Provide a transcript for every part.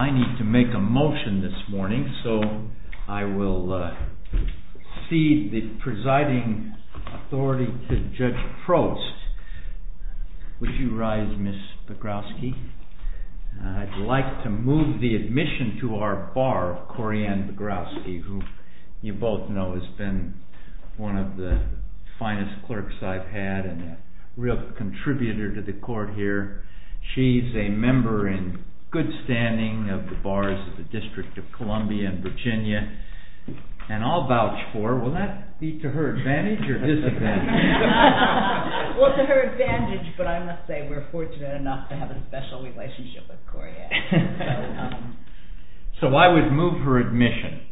I need to make a motion this morning, so I will cede the presiding authority to Judge Prost. Would you rise, Ms. Pogrowski? I'd like to move the admission to our bar, Corianne Pogrowski, who you both know has been one of the finest clerks I've had and a real contributor to the court here. She's a member in good standing of the bars of the District of Columbia and Virginia, and I'll vouch for her. Will that be to her advantage or disadvantage? Well, to her advantage, but I must say we're fortunate enough to have a special relationship with Corianne. So I would move her admission,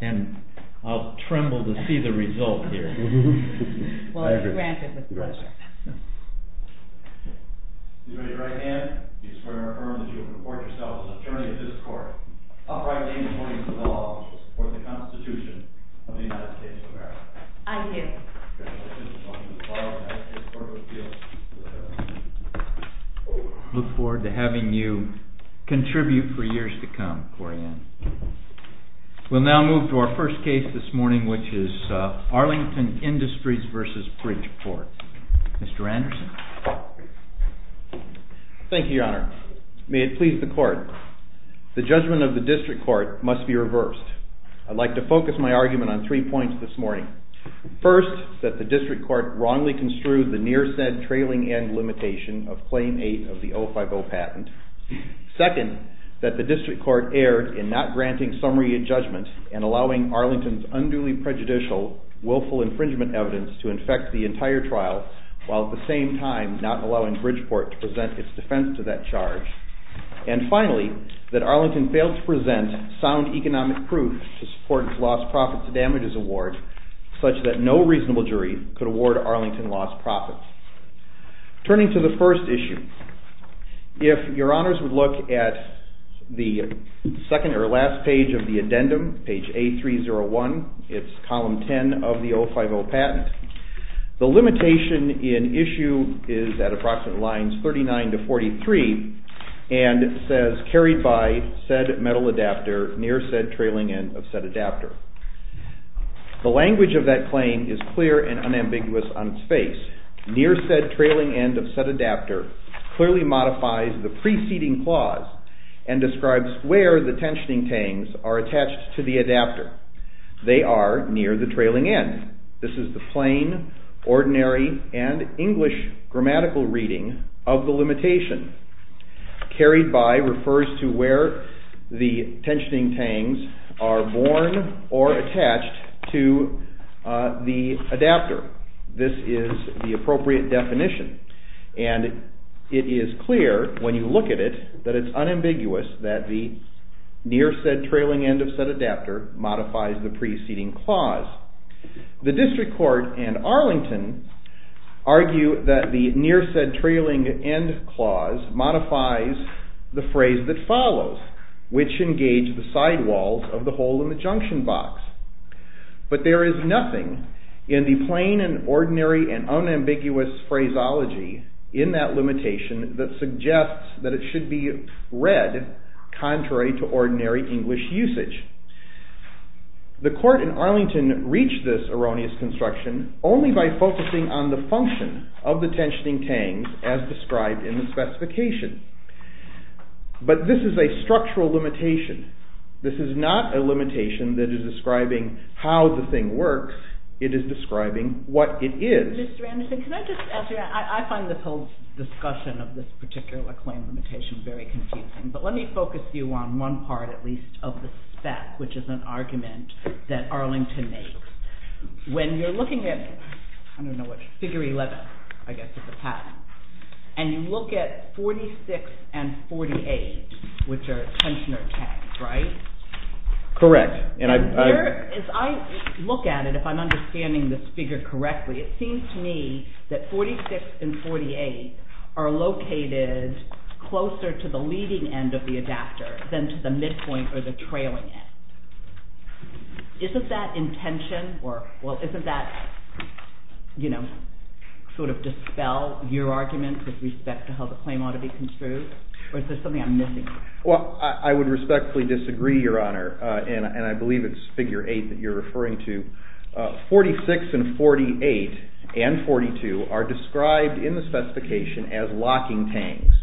and I'll tremble to see the result here. I agree. Well, she's granted the pleasure. Please raise your right hand if you swear or affirm that you will report yourself as an attorney at this court, uprightly and according to the law, and will support the Constitution of the United States of America. I do. I look forward to having you contribute for years to come, Corianne. We'll now move to our first case this morning, which is Arlington Industries v. Bridgeport. Mr. Anderson. Thank you, Your Honor. May it please the Court, the judgment of the District Court must be reversed. I'd like to focus my argument on three points this morning. First, that the District Court wrongly construed the near-said trailing end limitation of Claim 8 of the 050 patent. Second, that the District Court erred in not granting summary judgment and allowing Arlington's unduly prejudicial, willful infringement evidence to infect the entire trial, while at the same time not allowing Bridgeport to present its defense to that charge. And finally, that Arlington failed to present sound economic proof to support its lost profits and damages award, such that no reasonable jury could award Arlington lost profits. Turning to the first issue, if Your Honors would look at the second or last page of the addendum, page A301, it's column 10 of the 050 patent. The limitation in issue is at approximate lines 39 to 43, and it says, carried by said metal adapter near said trailing end of said adapter. The language of that claim is clear and unambiguous on its face. Near said trailing end of said adapter clearly modifies the preceding clause and describes where the tensioning tangs are attached to the adapter. They are near the trailing end. This is the plain, ordinary, and English grammatical reading of the limitation. Carried by refers to where the tensioning tangs are born or attached to the adapter. This is the appropriate definition, and it is clear when you look at it that it's unambiguous that the near said trailing end of said adapter modifies the preceding clause. The district court and Arlington argue that the near said trailing end clause modifies the phrase that follows, which engage the sidewalls of the hole in the junction box. But there is nothing in the plain and ordinary and unambiguous phraseology in that limitation that suggests that it should be read contrary to ordinary English usage. The court in Arlington reached this erroneous construction only by focusing on the function of the tensioning tangs as described in the specification. But this is a structural limitation. This is not a limitation that is describing how the thing works. It is describing what it is. I find this whole discussion of this particular claim limitation very confusing. But let me focus you on one part, at least, of the spec, which is an argument that Arlington makes. When you're looking at figure 11, I guess, of the patent, and you look at 46 and 48, which are tensioner tangs, right? Correct. As I look at it, if I'm understanding this figure correctly, it seems to me that 46 and 48 are located closer to the leading end of the adapter than to the midpoint or the trailing end. Isn't that intention or, well, isn't that, you know, sort of dispel your arguments with respect to how the claim ought to be construed? Or is there something I'm missing? Well, I would respectfully disagree, Your Honor, and I believe it's figure 8 that you're referring to. 46 and 48 and 42 are described in the specification as locking tangs.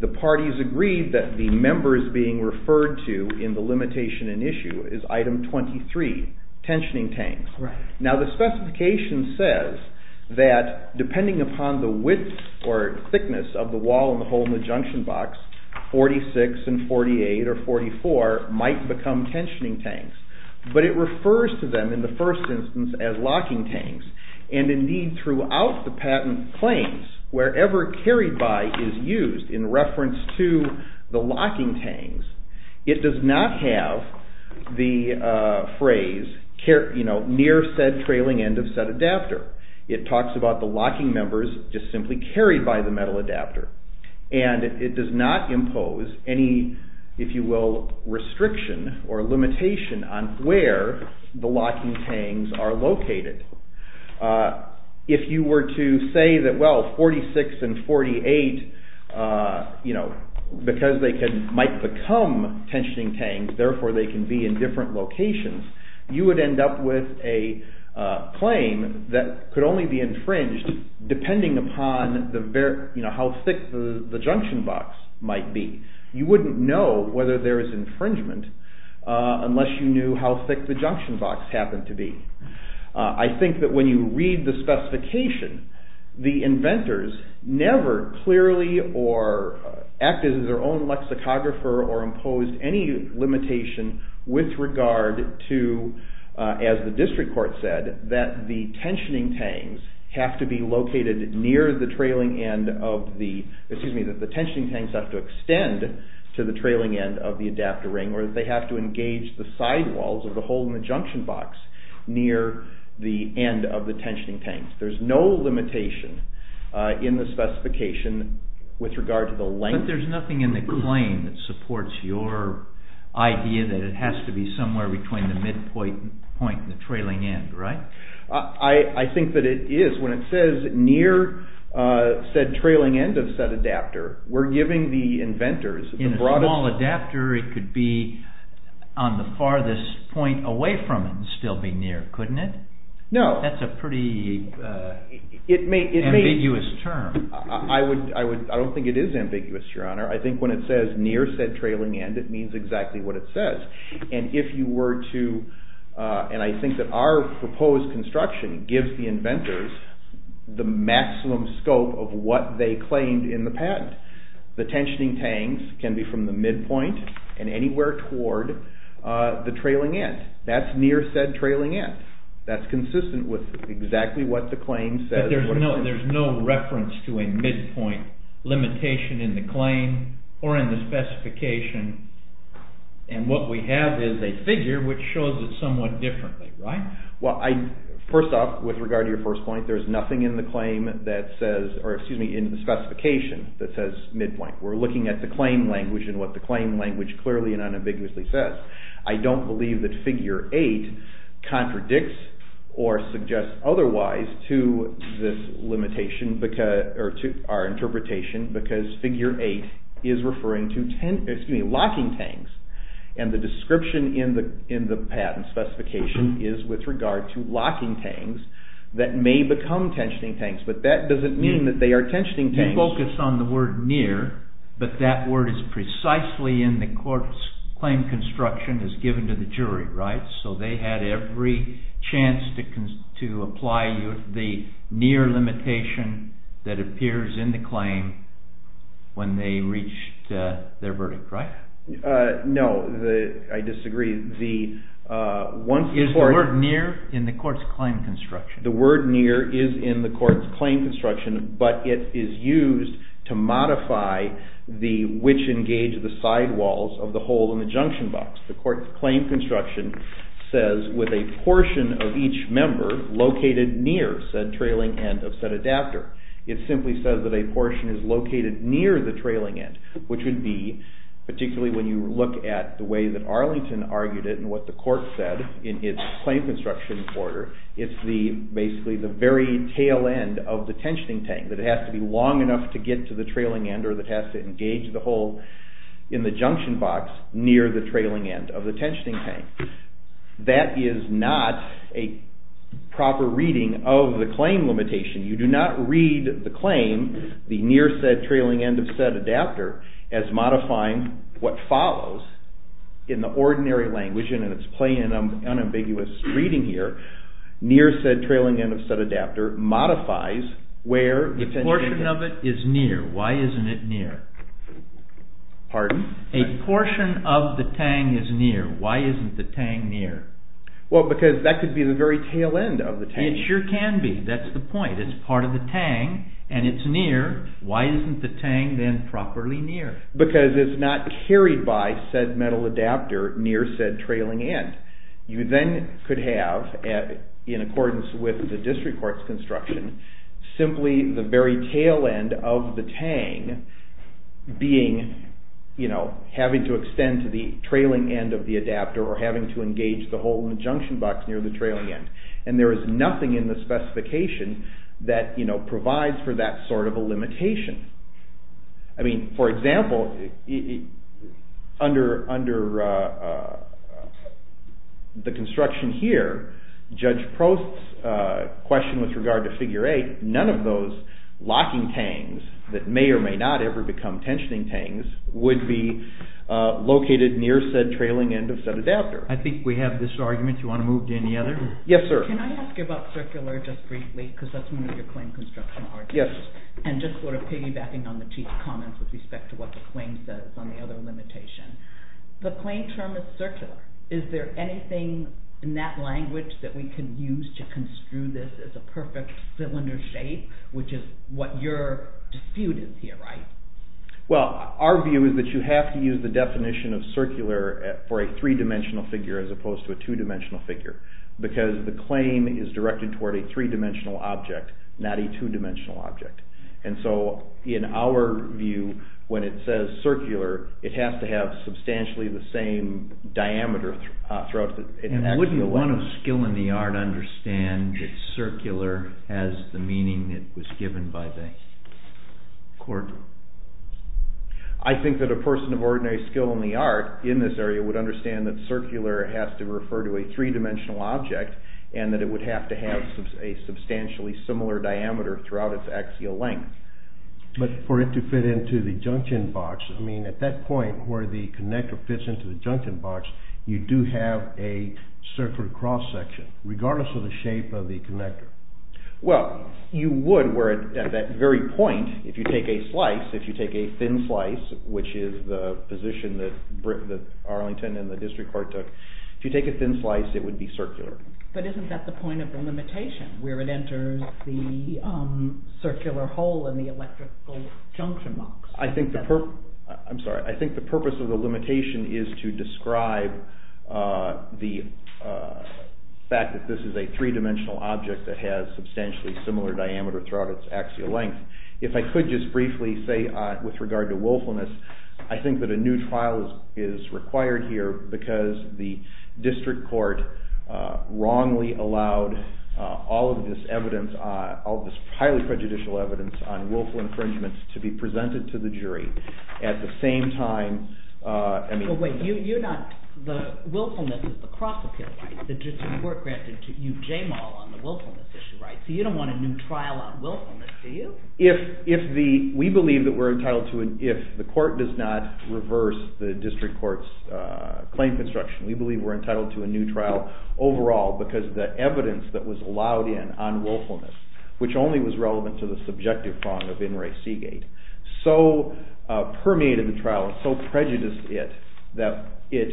The parties agreed that the members being referred to in the limitation in issue is item 23, tensioning tangs. Now, the specification says that depending upon the width or thickness of the wall and the hole in the junction box, 46 and 48 or 44 might become tensioning tangs. But it refers to them in the first instance as locking tangs. And indeed, throughout the patent claims, wherever carried by is used in reference to the locking tangs, it does not have the phrase, you know, near said trailing end of said adapter. It talks about the locking members just simply carried by the metal adapter. And it does not impose any, if you will, restriction or limitation on where the locking tangs are located. If you were to say that, well, 46 and 48, you know, because they might become tensioning tangs, therefore they can be in different locations, you would end up with a claim that could only be infringed depending upon how thick the junction box might be. You wouldn't know whether there is infringement unless you knew how thick the junction box happened to be. I think that when you read the specification, the inventors never clearly or acted as their own lexicographer or imposed any limitation with regard to, as the district court said, that the tensioning tangs have to be located near the trailing end of the, excuse me, that the tensioning tangs have to extend to the trailing end of the adapter ring, or that they have to engage the sidewalls of the hole in the junction box near the end of the tensioning tangs. There's no limitation in the specification with regard to the length. But there's nothing in the claim that supports your idea that it has to be somewhere between the midpoint and the trailing end, right? I think that it is. When it says near said trailing end of said adapter, we're giving the inventors the broadest… The boundary could be on the farthest point away from it and still be near, couldn't it? No. That's a pretty ambiguous term. I don't think it is ambiguous, your honor. I think when it says near said trailing end, it means exactly what it says. And if you were to, and I think that our proposed construction gives the inventors the maximum scope of what they claimed in the patent. The tensioning tangs can be from the midpoint and anywhere toward the trailing end. That's near said trailing end. That's consistent with exactly what the claim says. But there's no reference to a midpoint limitation in the claim or in the specification. And what we have is a figure which shows it somewhat differently, right? Well, first off, with regard to your first point, there's nothing in the claim that says, or excuse me, in the specification that says midpoint. We're looking at the claim language and what the claim language clearly and unambiguously says. I don't believe that figure 8 contradicts or suggests otherwise to this limitation or to our interpretation because figure 8 is referring to locking tangs. And the description in the patent specification is with regard to locking tangs that may become tensioning tangs. But that doesn't mean that they are tensioning tangs. You focus on the word near, but that word is precisely in the court's claim construction as given to the jury, right? So they had every chance to apply the near limitation that appears in the claim when they reached their verdict, right? No, I disagree. Is the word near in the court's claim construction? The word near is in the court's claim construction, but it is used to modify the which engage the sidewalls of the hole in the junction box. The court's claim construction says with a portion of each member located near said trailing end of said adapter. It simply says that a portion is located near the trailing end, which would be particularly when you look at the way that Arlington argued it and what the court said in its claim construction order, it's basically the very tail end of the tensioning tang, that it has to be long enough to get to the trailing end or that it has to engage the hole in the junction box near the trailing end of the tensioning tang. That is not a proper reading of the claim limitation. You do not read the claim, the near said trailing end of said adapter, as modifying what follows in the ordinary language and in its plain and unambiguous reading here, near said trailing end of said adapter modifies where the tensioning tang… A portion of it is near. Why isn't it near? Pardon? A portion of the tang is near. Why isn't the tang near? Well, because that could be the very tail end of the tang. It sure can be. That's the point. It's part of the tang and it's near. Why isn't the tang then properly near? Because it's not carried by said metal adapter near said trailing end. You then could have, in accordance with the district court's construction, simply the very tail end of the tang having to extend to the trailing end of the adapter or having to engage the hole in the junction box near the trailing end. And there is nothing in the specification that provides for that sort of a limitation. I mean, for example, under the construction here, Judge Prost's question with regard to figure 8, none of those locking tangs that may or may not ever become tensioning tangs would be located near said trailing end of said adapter. I think we have this argument. Do you want to move to any other? Yes, sir. Can I ask you about circular just briefly, because that's one of your claim construction arguments, and just sort of piggybacking on the Chief's comments with respect to what the claim says on the other limitation. The claim term is circular. Is there anything in that language that we could use to construe this as a perfect cylinder shape, which is what your dispute is here, right? Well, our view is that you have to use the definition of circular for a three-dimensional figure as opposed to a two-dimensional figure, because the claim is directed toward a three-dimensional object, not a two-dimensional object. And so in our view, when it says circular, it has to have substantially the same diameter throughout. And wouldn't one of skill in the art understand that circular has the meaning that was given by the court? I think that a person of ordinary skill in the art in this area would understand that circular has to refer to a three-dimensional object and that it would have to have a substantially similar diameter throughout its axial length. But for it to fit into the junction box, I mean, at that point where the connector fits into the junction box, you do have a circular cross-section, regardless of the shape of the connector. Well, you would where at that very point, if you take a slice, if you take a thin slice, which is the position that Arlington and the district court took, if you take a thin slice, it would be circular. But isn't that the point of the limitation, where it enters the circular hole in the electrical junction box? I think the purpose of the limitation is to describe the fact that this is a three-dimensional object that has substantially similar diameter throughout its axial length. If I could just briefly say with regard to willfulness, I think that a new trial is required here because the district court wrongly allowed all of this evidence, all of this highly prejudicial evidence, on willful infringements to be presented to the jury at the same time. Wait, you're not, the willfulness is the cross-appeal, right? The district court granted you J-mall on the willfulness issue, right? So you don't want a new trial on willfulness, do you? If the, we believe that we're entitled to, if the court does not reverse the district court's claim construction, we believe we're entitled to a new trial overall because the evidence that was allowed in on willfulness, which only was relevant to the subjective wrong of In re Seagate, so permeated the trial, so prejudiced it that it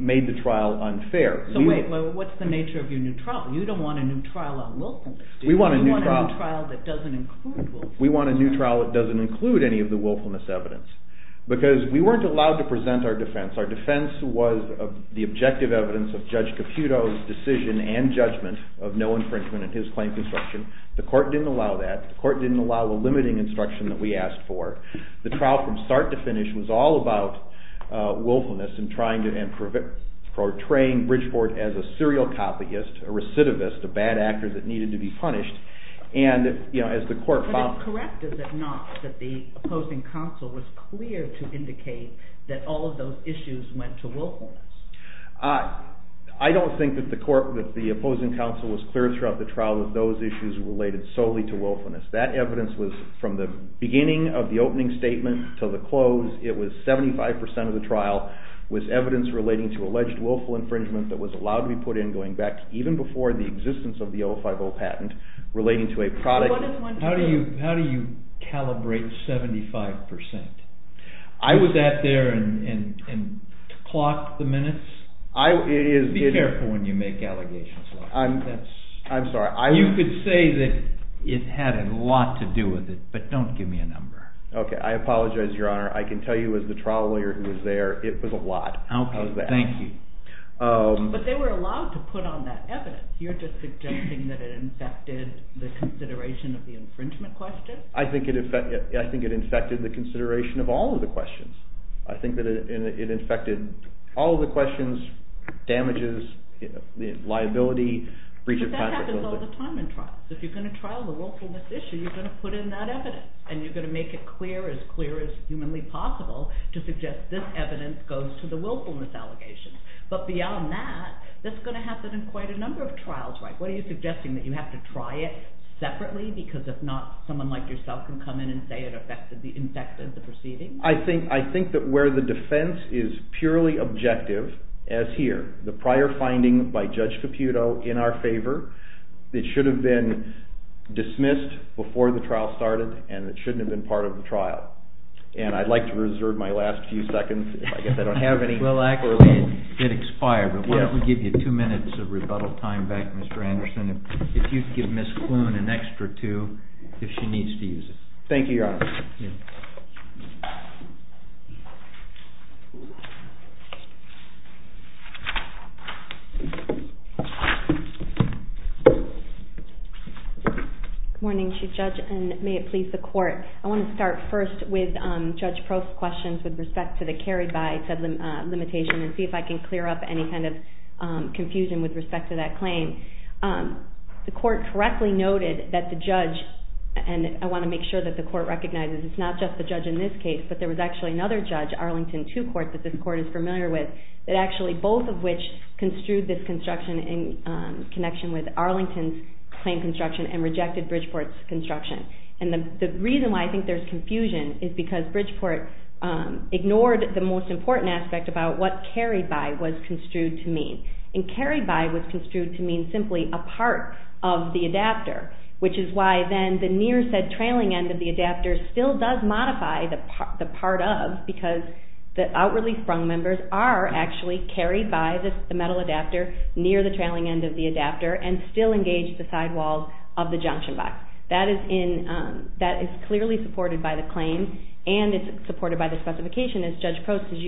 made the trial unfair. So wait, what's the nature of your new trial? You don't want a new trial on willfulness, do you? We want a new trial. You want a new trial that doesn't include willfulness. We want a new trial that doesn't include any of the willfulness evidence because we weren't allowed to present our defense. Our defense was the objective evidence of Judge Caputo's decision and judgment of no infringement in his claim construction. The court didn't allow that. The court didn't allow the limiting instruction that we asked for. The trial from start to finish was all about willfulness and trying to, and portraying Bridgeport as a serial copyist, a recidivist, a bad actor that needed to be punished. And, you know, as the court found... But is it correct, is it not, that the opposing counsel was clear to indicate that all of those issues went to willfulness? I don't think that the opposing counsel was clear throughout the trial that those issues were related solely to willfulness. That evidence was, from the beginning of the opening statement to the close, it was 75% of the trial was evidence relating to alleged willful infringement that was allowed to be put in going back even before the existence of the 050 patent relating to a product... How do you calibrate 75%? I was at there and clocked the minutes. Be careful when you make allegations. I'm sorry. You could say that it had a lot to do with it, but don't give me a number. Okay, I apologize, Your Honor. I can tell you as the trial lawyer who was there, it was a lot. Okay, thank you. But they were allowed to put on that evidence. You're just suggesting that it infected the consideration of the infringement question? I think it infected the consideration of all of the questions. I think that it infected all of the questions, damages, liability, breach of patent liability. But that happens all the time in trials. If you're going to trial the willfulness issue, you're going to put in that evidence, and you're going to make it clear, as clear as humanly possible, to suggest this evidence goes to the willfulness allegations. But beyond that, that's going to happen in quite a number of trials, right? What are you suggesting, that you have to try it separately? Because if not, someone like yourself can come in and say it infected the proceedings? I think that where the defense is purely objective, as here, the prior finding by Judge Caputo in our favor, it should have been dismissed before the trial started, and it shouldn't have been part of the trial. And I'd like to reserve my last few seconds. I guess I don't have any. Well, accurately, it expired. But why don't we give you two minutes of rebuttal time back, Mr. Anderson, if you'd give Ms. Kloon an extra two, if she needs to use it. Thank you, Your Honor. Good morning, Chief Judge, and may it please the Court. I want to start first with Judge Prost's questions, with respect to the carried-by limitation, and see if I can clear up any kind of confusion with respect to that claim. The Court correctly noted that the judge, and I want to make sure that the Court recognizes it's not just the judge in this case, but there was actually another judge, Arlington Two Court, that this Court is familiar with, that actually both of which construed this construction in connection with Arlington's claim construction and rejected Bridgeport's construction. And the reason why I think there's confusion is because Bridgeport ignored the most important aspect about what carried-by was construed to mean. And carried-by was construed to mean simply a part of the adapter, which is why then the near said trailing end of the adapter still does modify the part of, because the outwardly sprung members are actually carried by the metal adapter near the trailing end of the adapter and still engage the sidewalls of the junction box. That is clearly supported by the claim, and it's supported by the specification, as Judge Prost, as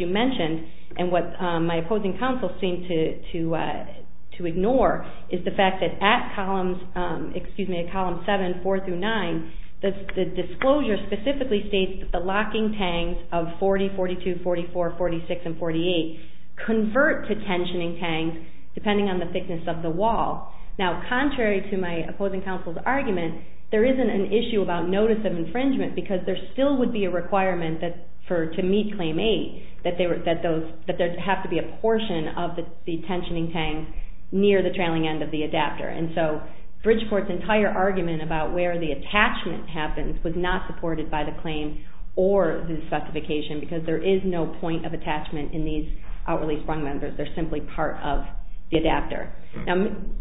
you mentioned, and what my opposing counsel seemed to ignore is the fact that at Columns 7, 4 through 9, the disclosure specifically states that the locking tangs of 40, 42, 44, 46, and 48 convert to tensioning tangs depending on the thickness of the wall. Now, contrary to my opposing counsel's argument, there isn't an issue about notice of infringement because there still would be a requirement to meet Claim 8 that there have to be a portion of the tensioning tang near the trailing end of the adapter. And so Bridgeport's entire argument about where the attachment happens was not supported by the claim or the specification because there is no point of attachment in these outwardly sprung members. They're simply part of the adapter. Now,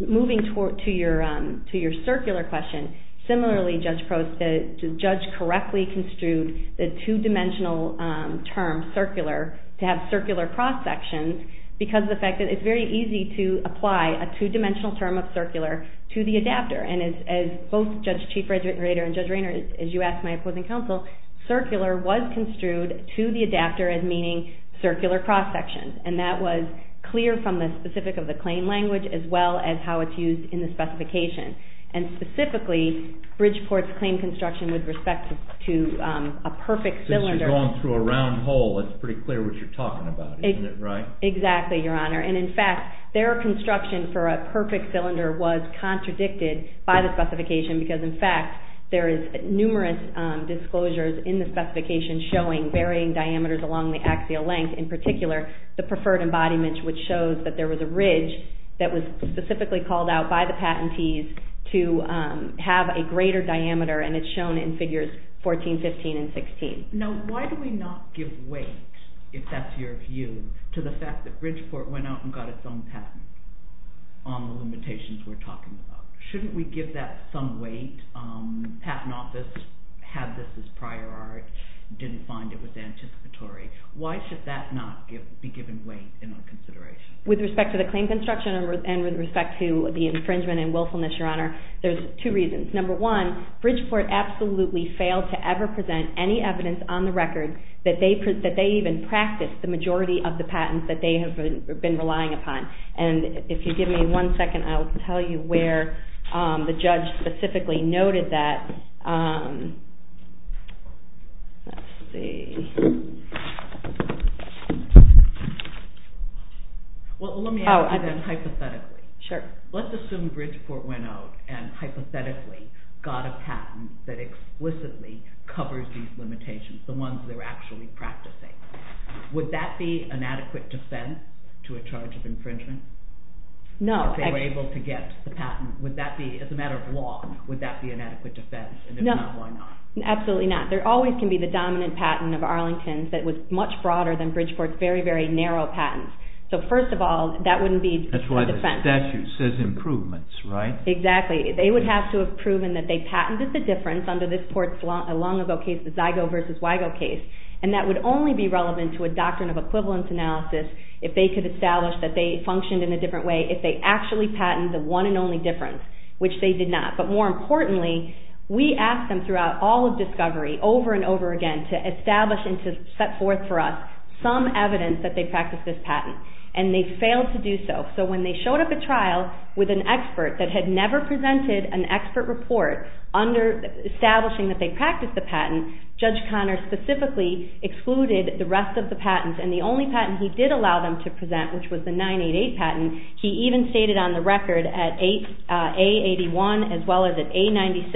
moving to your circular question, similarly, Judge Prost, the judge correctly construed the two-dimensional term circular to have circular cross-sections because of the fact that it's very easy to apply a two-dimensional term of circular to the adapter. And as both Judge Chief Rader and Judge Rayner, as you asked my opposing counsel, circular was construed to the adapter as meaning circular cross-sections, and that was clear from the specific of the claim language as well as how it's used in the specification. And specifically, Bridgeport's claim construction with respect to a perfect cylinder... Since you're going through a round hole, it's pretty clear what you're talking about, isn't it, right? Exactly, Your Honor. And in fact, their construction for a perfect cylinder was contradicted by the specification because, in fact, there is numerous disclosures in the specification showing varying diameters along the axial length. In particular, the preferred embodiment, which shows that there was a ridge that was specifically called out by the patentees to have a greater diameter, and it's shown in figures 14, 15, and 16. Now, why do we not give weight, if that's your view, to the fact that Bridgeport went out and got its own patent on the limitations we're talking about? Shouldn't we give that some weight? Patent office had this as prior art, didn't find it was anticipatory. Why should that not be given weight in our consideration? With respect to the claim construction and with respect to the infringement and willfulness, Your Honor, there's two reasons. Number one, Bridgeport absolutely failed to ever present any evidence on the record that they even practiced the majority of the patents that they have been relying upon. And if you give me one second, I will tell you where the judge specifically noted that... Let's see. Well, let me ask you then hypothetically. Sure. Let's assume Bridgeport went out and hypothetically got a patent that explicitly covers these limitations, the ones they're actually practicing. Would that be an adequate defense to a charge of infringement? No. If they were able to get the patent, as a matter of law, would that be an adequate defense? And if not, why not? Absolutely not. There always can be the dominant patent of Arlington that was much broader than Bridgeport's very, very narrow patents. So first of all, that wouldn't be a defense. That's why the statute says improvements, right? Exactly. They would have to have proven that they patented the difference under this Port's long-ago case, the Zygo versus Wygo case, and that would only be relevant to a doctrine of equivalence analysis if they could establish that they functioned in a different way if they actually patented the one and only difference, which they did not. But more importantly, we asked them throughout all of discovery, over and over again, to establish and to set forth for us some evidence that they practiced this patent, and they failed to do so. So when they showed up at trial with an expert that had never presented an expert report establishing that they practiced the patent, Judge Conner specifically excluded the rest of the patents, and the only patent he did allow them to present, which was the 988 patent, he even stated on the record at A81 as well as at A96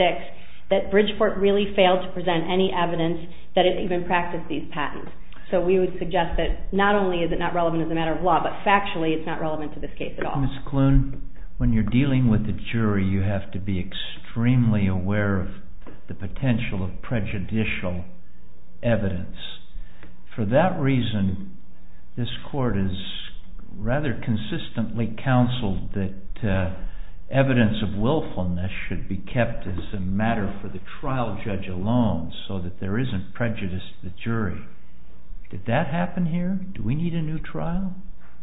that Bridgeport really failed to present any evidence that it even practiced these patents. So we would suggest that not only is it not relevant as a matter of law, but factually it's not relevant to this case at all. Ms. Kloon, when you're dealing with a jury, you have to be extremely aware of the potential of prejudicial evidence. For that reason, this court has rather consistently counseled that evidence of willfulness should be kept as a matter for the trial judge alone so that there isn't prejudice to the jury. Did that happen here? Do we need a new trial?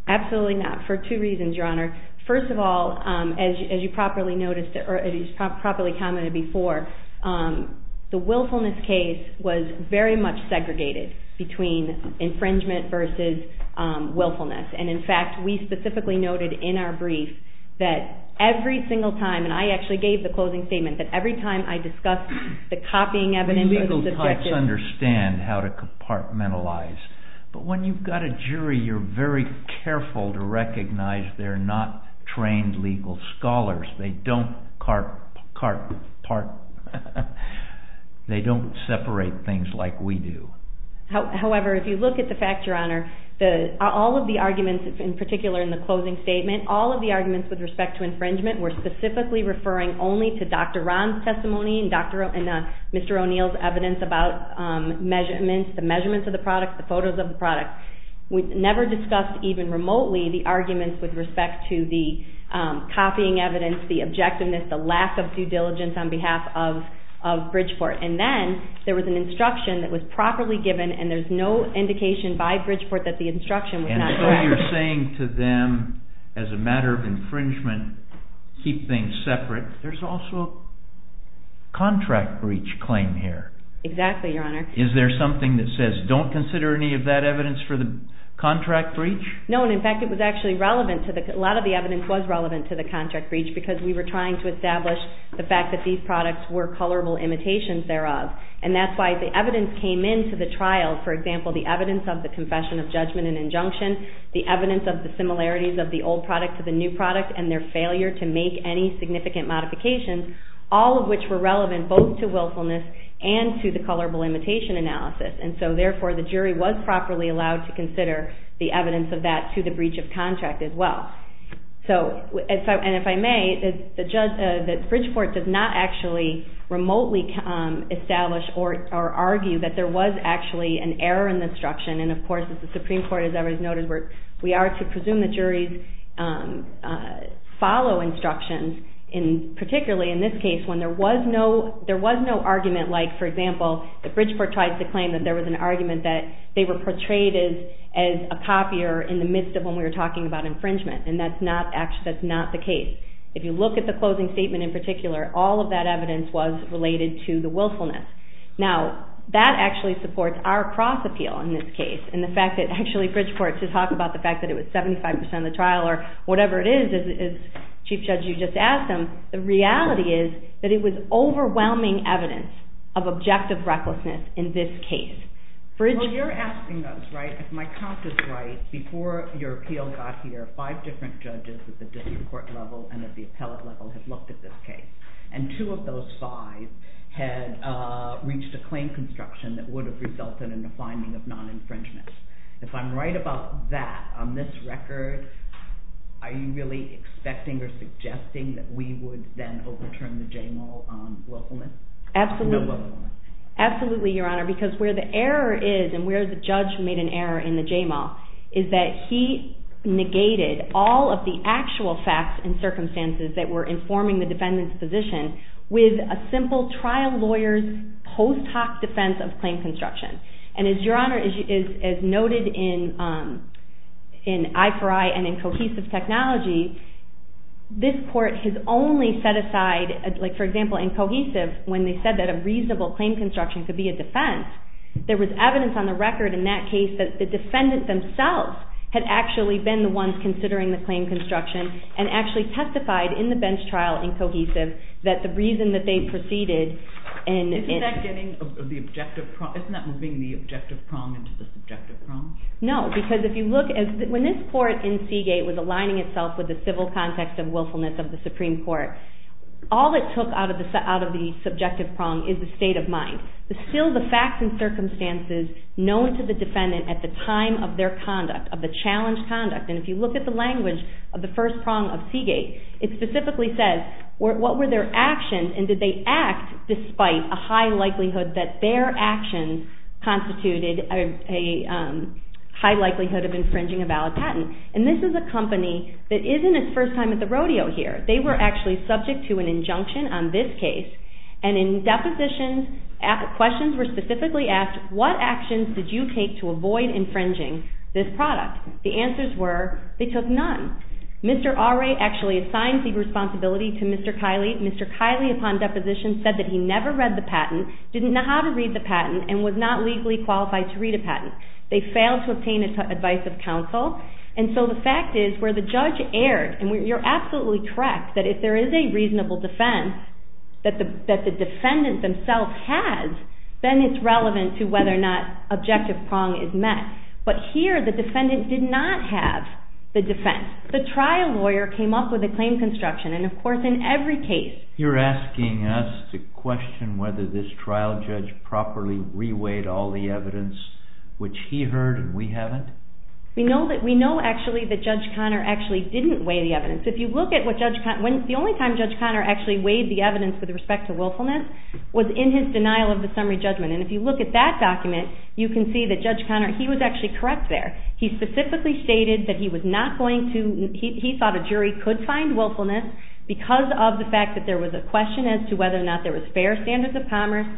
Absolutely not, for two reasons, Your Honor. First of all, as you properly commented before, the willfulness case was very much segregated between infringement versus willfulness. In fact, we specifically noted in our brief that every single time, and I actually gave the closing statement, that every time I discussed the copying evidence of the subjective... The legal types understand how to compartmentalize. But when you've got a jury, you're very careful to recognize they're not trained legal scholars. They don't separate things like we do. However, if you look at the fact, Your Honor, all of the arguments, in particular in the closing statement, all of the arguments with respect to infringement were specifically referring only to Dr. Ron's testimony and Mr. O'Neill's evidence about measurements, the measurements of the product, the photos of the product. We never discussed even remotely the arguments with respect to the copying evidence, the objectiveness, the lack of due diligence on behalf of Bridgeport. And then there was an instruction that was properly given, and there's no indication by Bridgeport that the instruction was not... And so you're saying to them, as a matter of infringement, keep things separate. There's also a contract breach claim here. Exactly, Your Honor. Is there something that says, don't consider any of that evidence for the contract breach? No, and, in fact, it was actually relevant to the... A lot of the evidence was relevant to the contract breach because we were trying to establish the fact that these products were colorable imitations thereof. And that's why the evidence came into the trial, for example, the evidence of the confession of judgment and injunction, the evidence of the similarities of the old product to the new product and their failure to make any significant modifications, all of which were relevant both to willfulness and to the colorable imitation analysis. And so, therefore, the jury was properly allowed to consider the evidence of that to the breach of contract as well. So, and if I may, Bridgeport does not actually remotely establish or argue that there was actually an error in the instruction. And, of course, the Supreme Court, as everybody's noted, we are to presume that juries follow instructions, particularly in this case when there was no argument like, for example, that Bridgeport tried to claim that there was an argument that they were portrayed as a copier in the midst of when we were talking about infringement. And that's not the case. If you look at the closing statement in particular, all of that evidence was related to the willfulness. Now, that actually supports our cross-appeal in this case and the fact that actually Bridgeport should talk about the fact that it was 75% of the trial or whatever it is, as Chief Judge, you just asked them. The reality is that it was overwhelming evidence of objective recklessness in this case. Well, you're asking us, right, if my count is right, before your appeal got here, five different judges at the district court level and at the appellate level had looked at this case. And two of those fives had reached a claim construction that would have resulted in a finding of non-infringement. If I'm right about that, on this record, are you really expecting or suggesting that we would then overturn the JMO willfulness? Absolutely, Your Honor, because where the error is and where the judge made an error in the JMO is that he negated all of the actual facts and circumstances that were informing the defendant's position with a simple trial lawyer's post hoc defense of claim construction. And, Your Honor, as noted in I4I and in Cohesive Technology, this court has only set aside, for example, in Cohesive, when they said that a reasonable claim construction could be a defense, there was evidence on the record in that case that the defendants themselves had actually been the ones considering the claim construction and actually testified in the bench trial in Cohesive that the reason that they proceeded... Isn't that moving the objective prong into the subjective prong? No, because when this court in Seagate was aligning itself with the civil context of willfulness of the Supreme Court, all it took out of the subjective prong is the state of mind. It was still the facts and circumstances known to the defendant at the time of their conduct, of the challenged conduct. And if you look at the language of the first prong of Seagate, it specifically says what were their actions and did they act despite a high likelihood that their actions constituted a high likelihood of infringing a valid patent. And this is a company that isn't its first time at the rodeo here. They were actually subject to an injunction on this case and in depositions, questions were specifically asked, what actions did you take to avoid infringing this product? The answers were they took none. Mr. Arey actually assigned the responsibility to Mr. Kiley. Mr. Kiley, upon deposition, said that he never read the patent, didn't know how to read the patent, and was not legally qualified to read a patent. They failed to obtain advice of counsel. And so the fact is where the judge erred, and you're absolutely correct that if there is a reasonable defense that the defendant themselves has, then it's relevant to whether or not objective prong is met. But here the defendant did not have the defense. The trial lawyer came up with a claim construction, and of course in every case... You're asking us to question whether this trial judge properly re-weighed all the evidence which he heard and we haven't? We know actually that Judge Conner actually didn't weigh the evidence. If you look at what Judge Conner... The only time Judge Conner actually weighed the evidence with respect to willfulness was in his denial of the summary judgment. And if you look at that document, you can see that Judge Conner, he was actually correct there. He specifically stated that he was not going to... He thought a jury could find willfulness because of the fact that there was a question as to whether or not there was fair standards of commerce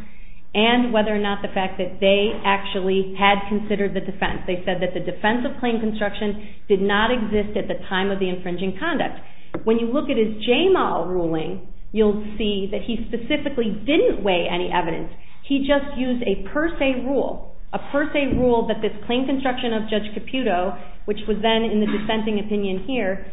and whether or not the fact that they actually had considered the defense. They said that the defense of claim construction did not exist at the time of the infringing conduct. When you look at his JMAL ruling, you'll see that he specifically didn't weigh any evidence. He just used a per se rule. A per se rule that this claim construction of Judge Caputo, which was then in the dissenting opinion here,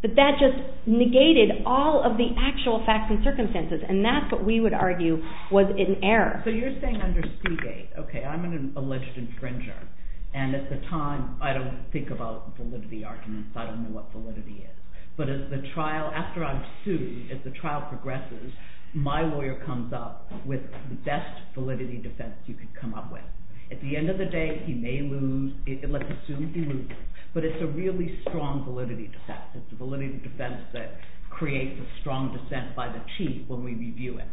that that just negated all of the actual facts and circumstances. And that's what we would argue was an error. So you're saying under Seagate, okay, I'm an alleged infringer. And at the time, I don't think about validity arguments. I don't know what validity is. But as the trial... After I'm sued, as the trial progresses, my lawyer comes up with the best validity defense you could come up with. At the end of the day, he may lose. Let's assume he loses. But it's a really strong validity defense. It's a validity defense that creates a strong dissent by the chief when we review it.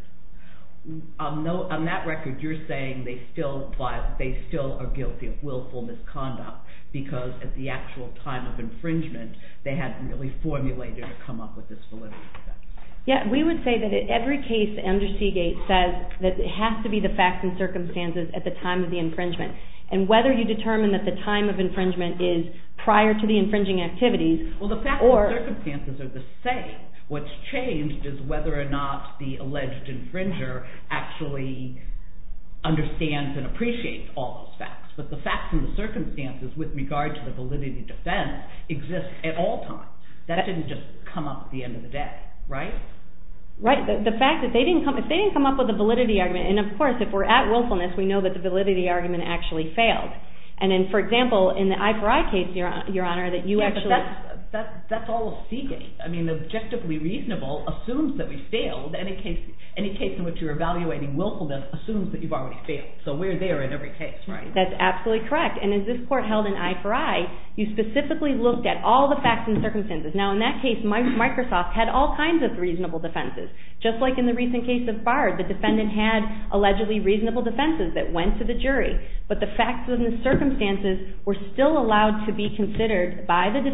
On that record, you're saying they still are guilty of willful misconduct because at the actual time of infringement, they hadn't really formulated or come up with this validity defense. Yeah, we would say that in every case, under Seagate says that it has to be the facts and circumstances at the time of the infringement. And whether you determine that the time of infringement is prior to the infringing activities... Well, the facts and circumstances are the same. What's changed is whether or not the alleged infringer actually understands and appreciates all those facts. But the facts and the circumstances with regard to the validity defense exist at all times. That didn't just come up at the end of the day, right? Right. The fact that they didn't come up with a validity argument... And, of course, if we're at willfulness, we know that the validity argument actually failed. And then, for example, in the I4I case, Your Honor, that you actually... Yeah, but that's all Seagate. I mean, objectively reasonable assumes that we failed. Any case in which you're evaluating willfulness assumes that you've already failed. So we're there in every case, right? That's absolutely correct. And in this court held in I4I, you specifically looked at all the facts and circumstances. Now, in that case, Microsoft had all kinds of reasonable defenses, just like in the recent case of Bard. The defendant had allegedly reasonable defenses that went to the jury. But the facts and the circumstances were still allowed to be considered by the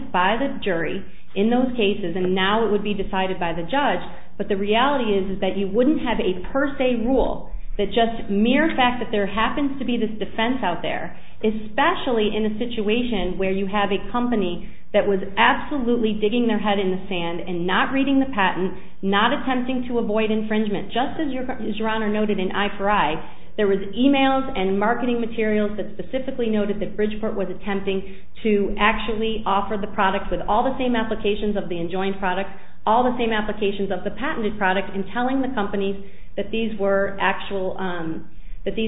jury in those cases, and now it would be decided by the judge. But the reality is that you wouldn't have a per se rule that just mere fact that there happens to be this defense out there, especially in a situation where you have a company that was absolutely digging their head in the sand and not reading the patent, not attempting to avoid infringement. Just as Your Honor noted in I4I, there was emails and marketing materials that specifically noted that Bridgeport was attempting to actually offer the product with all the same applications of the enjoined product, all the same applications of the patented product, and telling the companies that these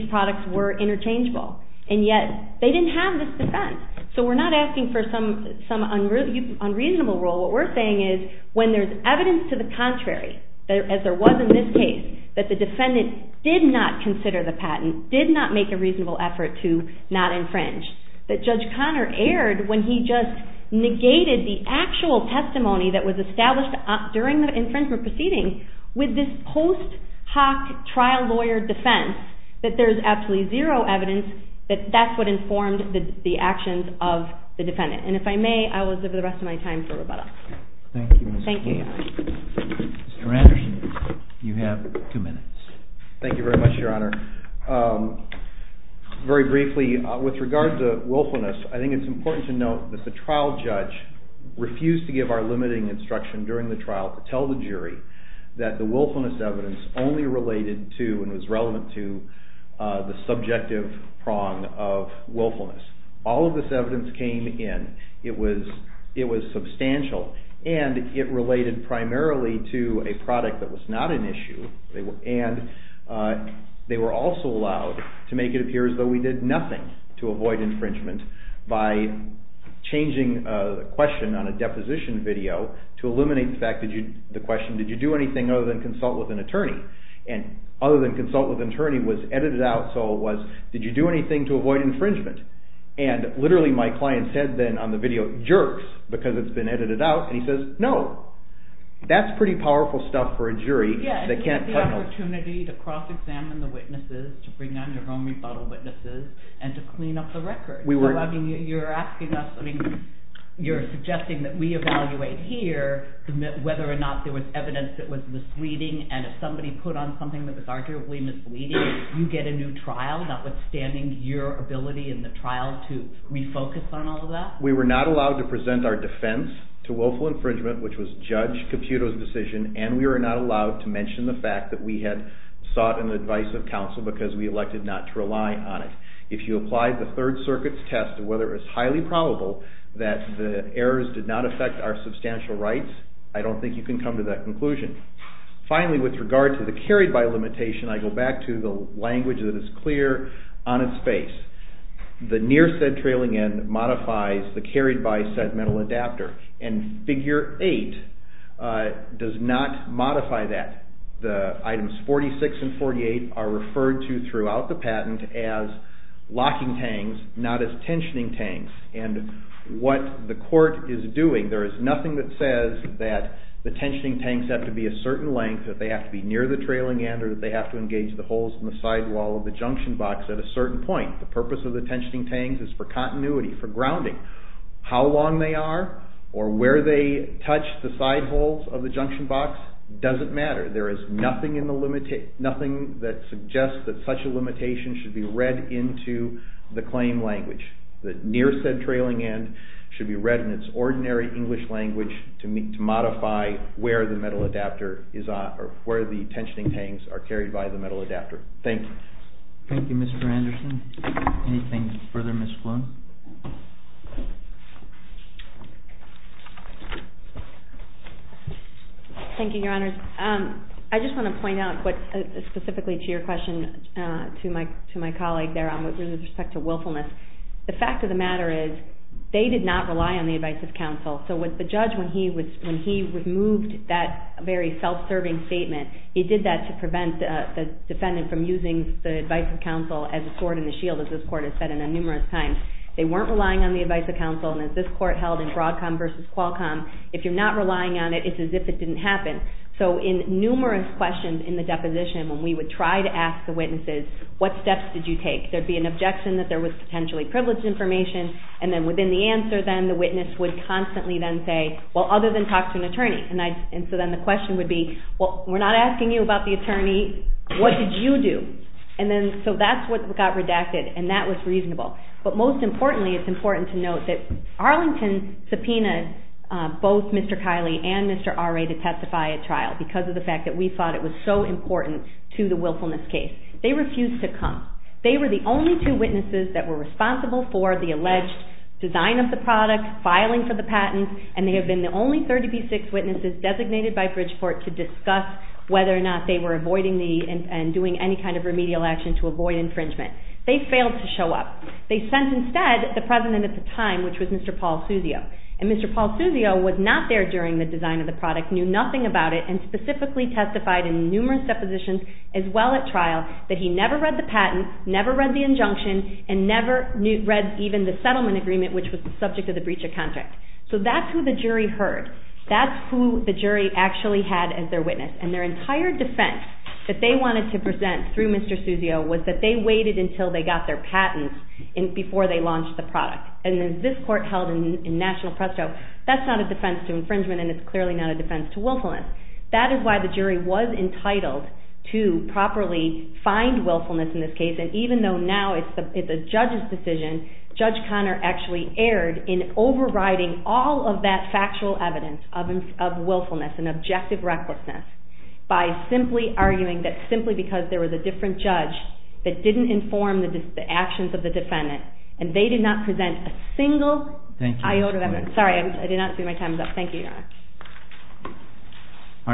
products were interchangeable. And yet, they didn't have this defense. So we're not asking for some unreasonable rule. What we're saying is when there's evidence to the contrary, as there was in this case, that the defendant did not consider the patent, did not make a reasonable effort to not infringe, that Judge Connor erred when he just negated the actual testimony that was established during the infringement proceeding with this post hoc trial lawyer defense, that there's absolutely zero evidence that that's what informed the actions of the defendant. And if I may, I will give the rest of my time for rebuttal. Thank you. Thank you, Your Honor. Mr. Anderson, you have two minutes. Thank you very much, Your Honor. Very briefly, with regard to willfulness, I think it's important to note that the trial judge refused to give our limiting instruction during the trial to tell the jury that the willfulness evidence only related to and was relevant to the subjective prong of willfulness. All of this evidence came in. It was substantial, and it related primarily to a product that was not an issue, and they were also allowed to make it appear as though we did nothing to avoid infringement by changing a question on a deposition video to eliminate the question, did you do anything other than consult with an attorney? And other than consult with an attorney was edited out, so it was, did you do anything to avoid infringement? And literally my client said then on the video, jerks, because it's been edited out, and he says, no. That's pretty powerful stuff for a jury that can't cut holes. Yeah, and you had the opportunity to cross-examine the witnesses, to bring on your own rebuttal witnesses, and to clean up the record. You're asking us, I mean, you're suggesting that we evaluate here whether or not there was evidence that was misleading, and if somebody put on something that was arguably misleading, you get a new trial, notwithstanding your ability in the trial to refocus on all of that? We were not allowed to present our defense to willful infringement, which was Judge Computo's decision, and we were not allowed to mention the fact that we had sought an advice of counsel because we elected not to rely on it. If you applied the Third Circuit's test of whether it was highly probable that the errors did not affect our substantial rights, I don't think you can come to that conclusion. Finally, with regard to the carried-by limitation, I go back to the language that is clear on its face. The near-said trailing end modifies the carried-by segmental adapter, and Figure 8 does not modify that. Items 46 and 48 are referred to throughout the patent as locking tangs, not as tensioning tangs. What the court is doing, there is nothing that says that the tensioning tangs have to be a certain length, that they have to be near the trailing end, or that they have to engage the holes in the sidewall of the junction box at a certain point. The purpose of the tensioning tangs is for continuity, for grounding. How long they are, or where they touch the sidewalls of the junction box, doesn't matter. There is nothing that suggests that such a limitation should be read into the claim language. The near-said trailing end should be read in its ordinary English language to modify where the tensioning tangs are carried by the metal adapter. Thank you. Thank you, Mr. Anderson. Anything further, Ms. Sloan? Thank you, Your Honors. I just want to point out, specifically to your question, to my colleague there, with respect to willfulness, the fact of the matter is, they did not rely on the advice of counsel. So when the judge removed that very self-serving statement, he did that to prevent the defendant from using the advice of counsel as a sword in the shield, as this Court has said numerous times. They weren't relying on the advice of counsel, and as this Court held in Broadcom versus Qualcomm, if you're not relying on it, it's as if it didn't happen. So in numerous questions in the deposition, when we would try to ask the witnesses, what steps did you take? There would be an objection that there was potentially privileged information, and then within the answer, then, the witness would constantly then say, well, other than talk to an attorney. And so then the question would be, well, we're not asking you about the attorney. What did you do? So that's what got redacted, and that was reasonable. But most importantly, it's important to note that Arlington subpoenaed both Mr. Kiley and Mr. Arey to testify at trial, because of the fact that we thought it was so important to the willfulness case. They refused to come. They were the only two witnesses that were responsible for the alleged design of the product, filing for the patent, and they have been the only 36 witnesses designated by Bridgeport to discuss whether or not they were avoiding the... and doing any kind of remedial action to avoid infringement. They failed to show up. They sent instead the president at the time, which was Mr. Paul Susio. And Mr. Paul Susio was not there during the design of the product, knew nothing about it, and specifically testified in numerous depositions as well at trial that he never read the patent, never read the injunction, and never read even the settlement agreement, which was the subject of the breach of contract. So that's who the jury heard. That's who the jury actually had as their witness, and their entire defense that they wanted to present through Mr. Susio was that they waited until they got their patents before they launched the product. And as this court held in national presto, that's not a defense to infringement and it's clearly not a defense to willfulness. That is why the jury was entitled to properly find willfulness in this case, and even though now it's a judge's decision, Judge Conner actually erred in overriding all of that factual evidence of willfulness and objective recklessness by simply arguing that simply because there was a different judge that didn't inform the actions of the defendant, and they did not present a single... Thank you. Thank you, Your Honor.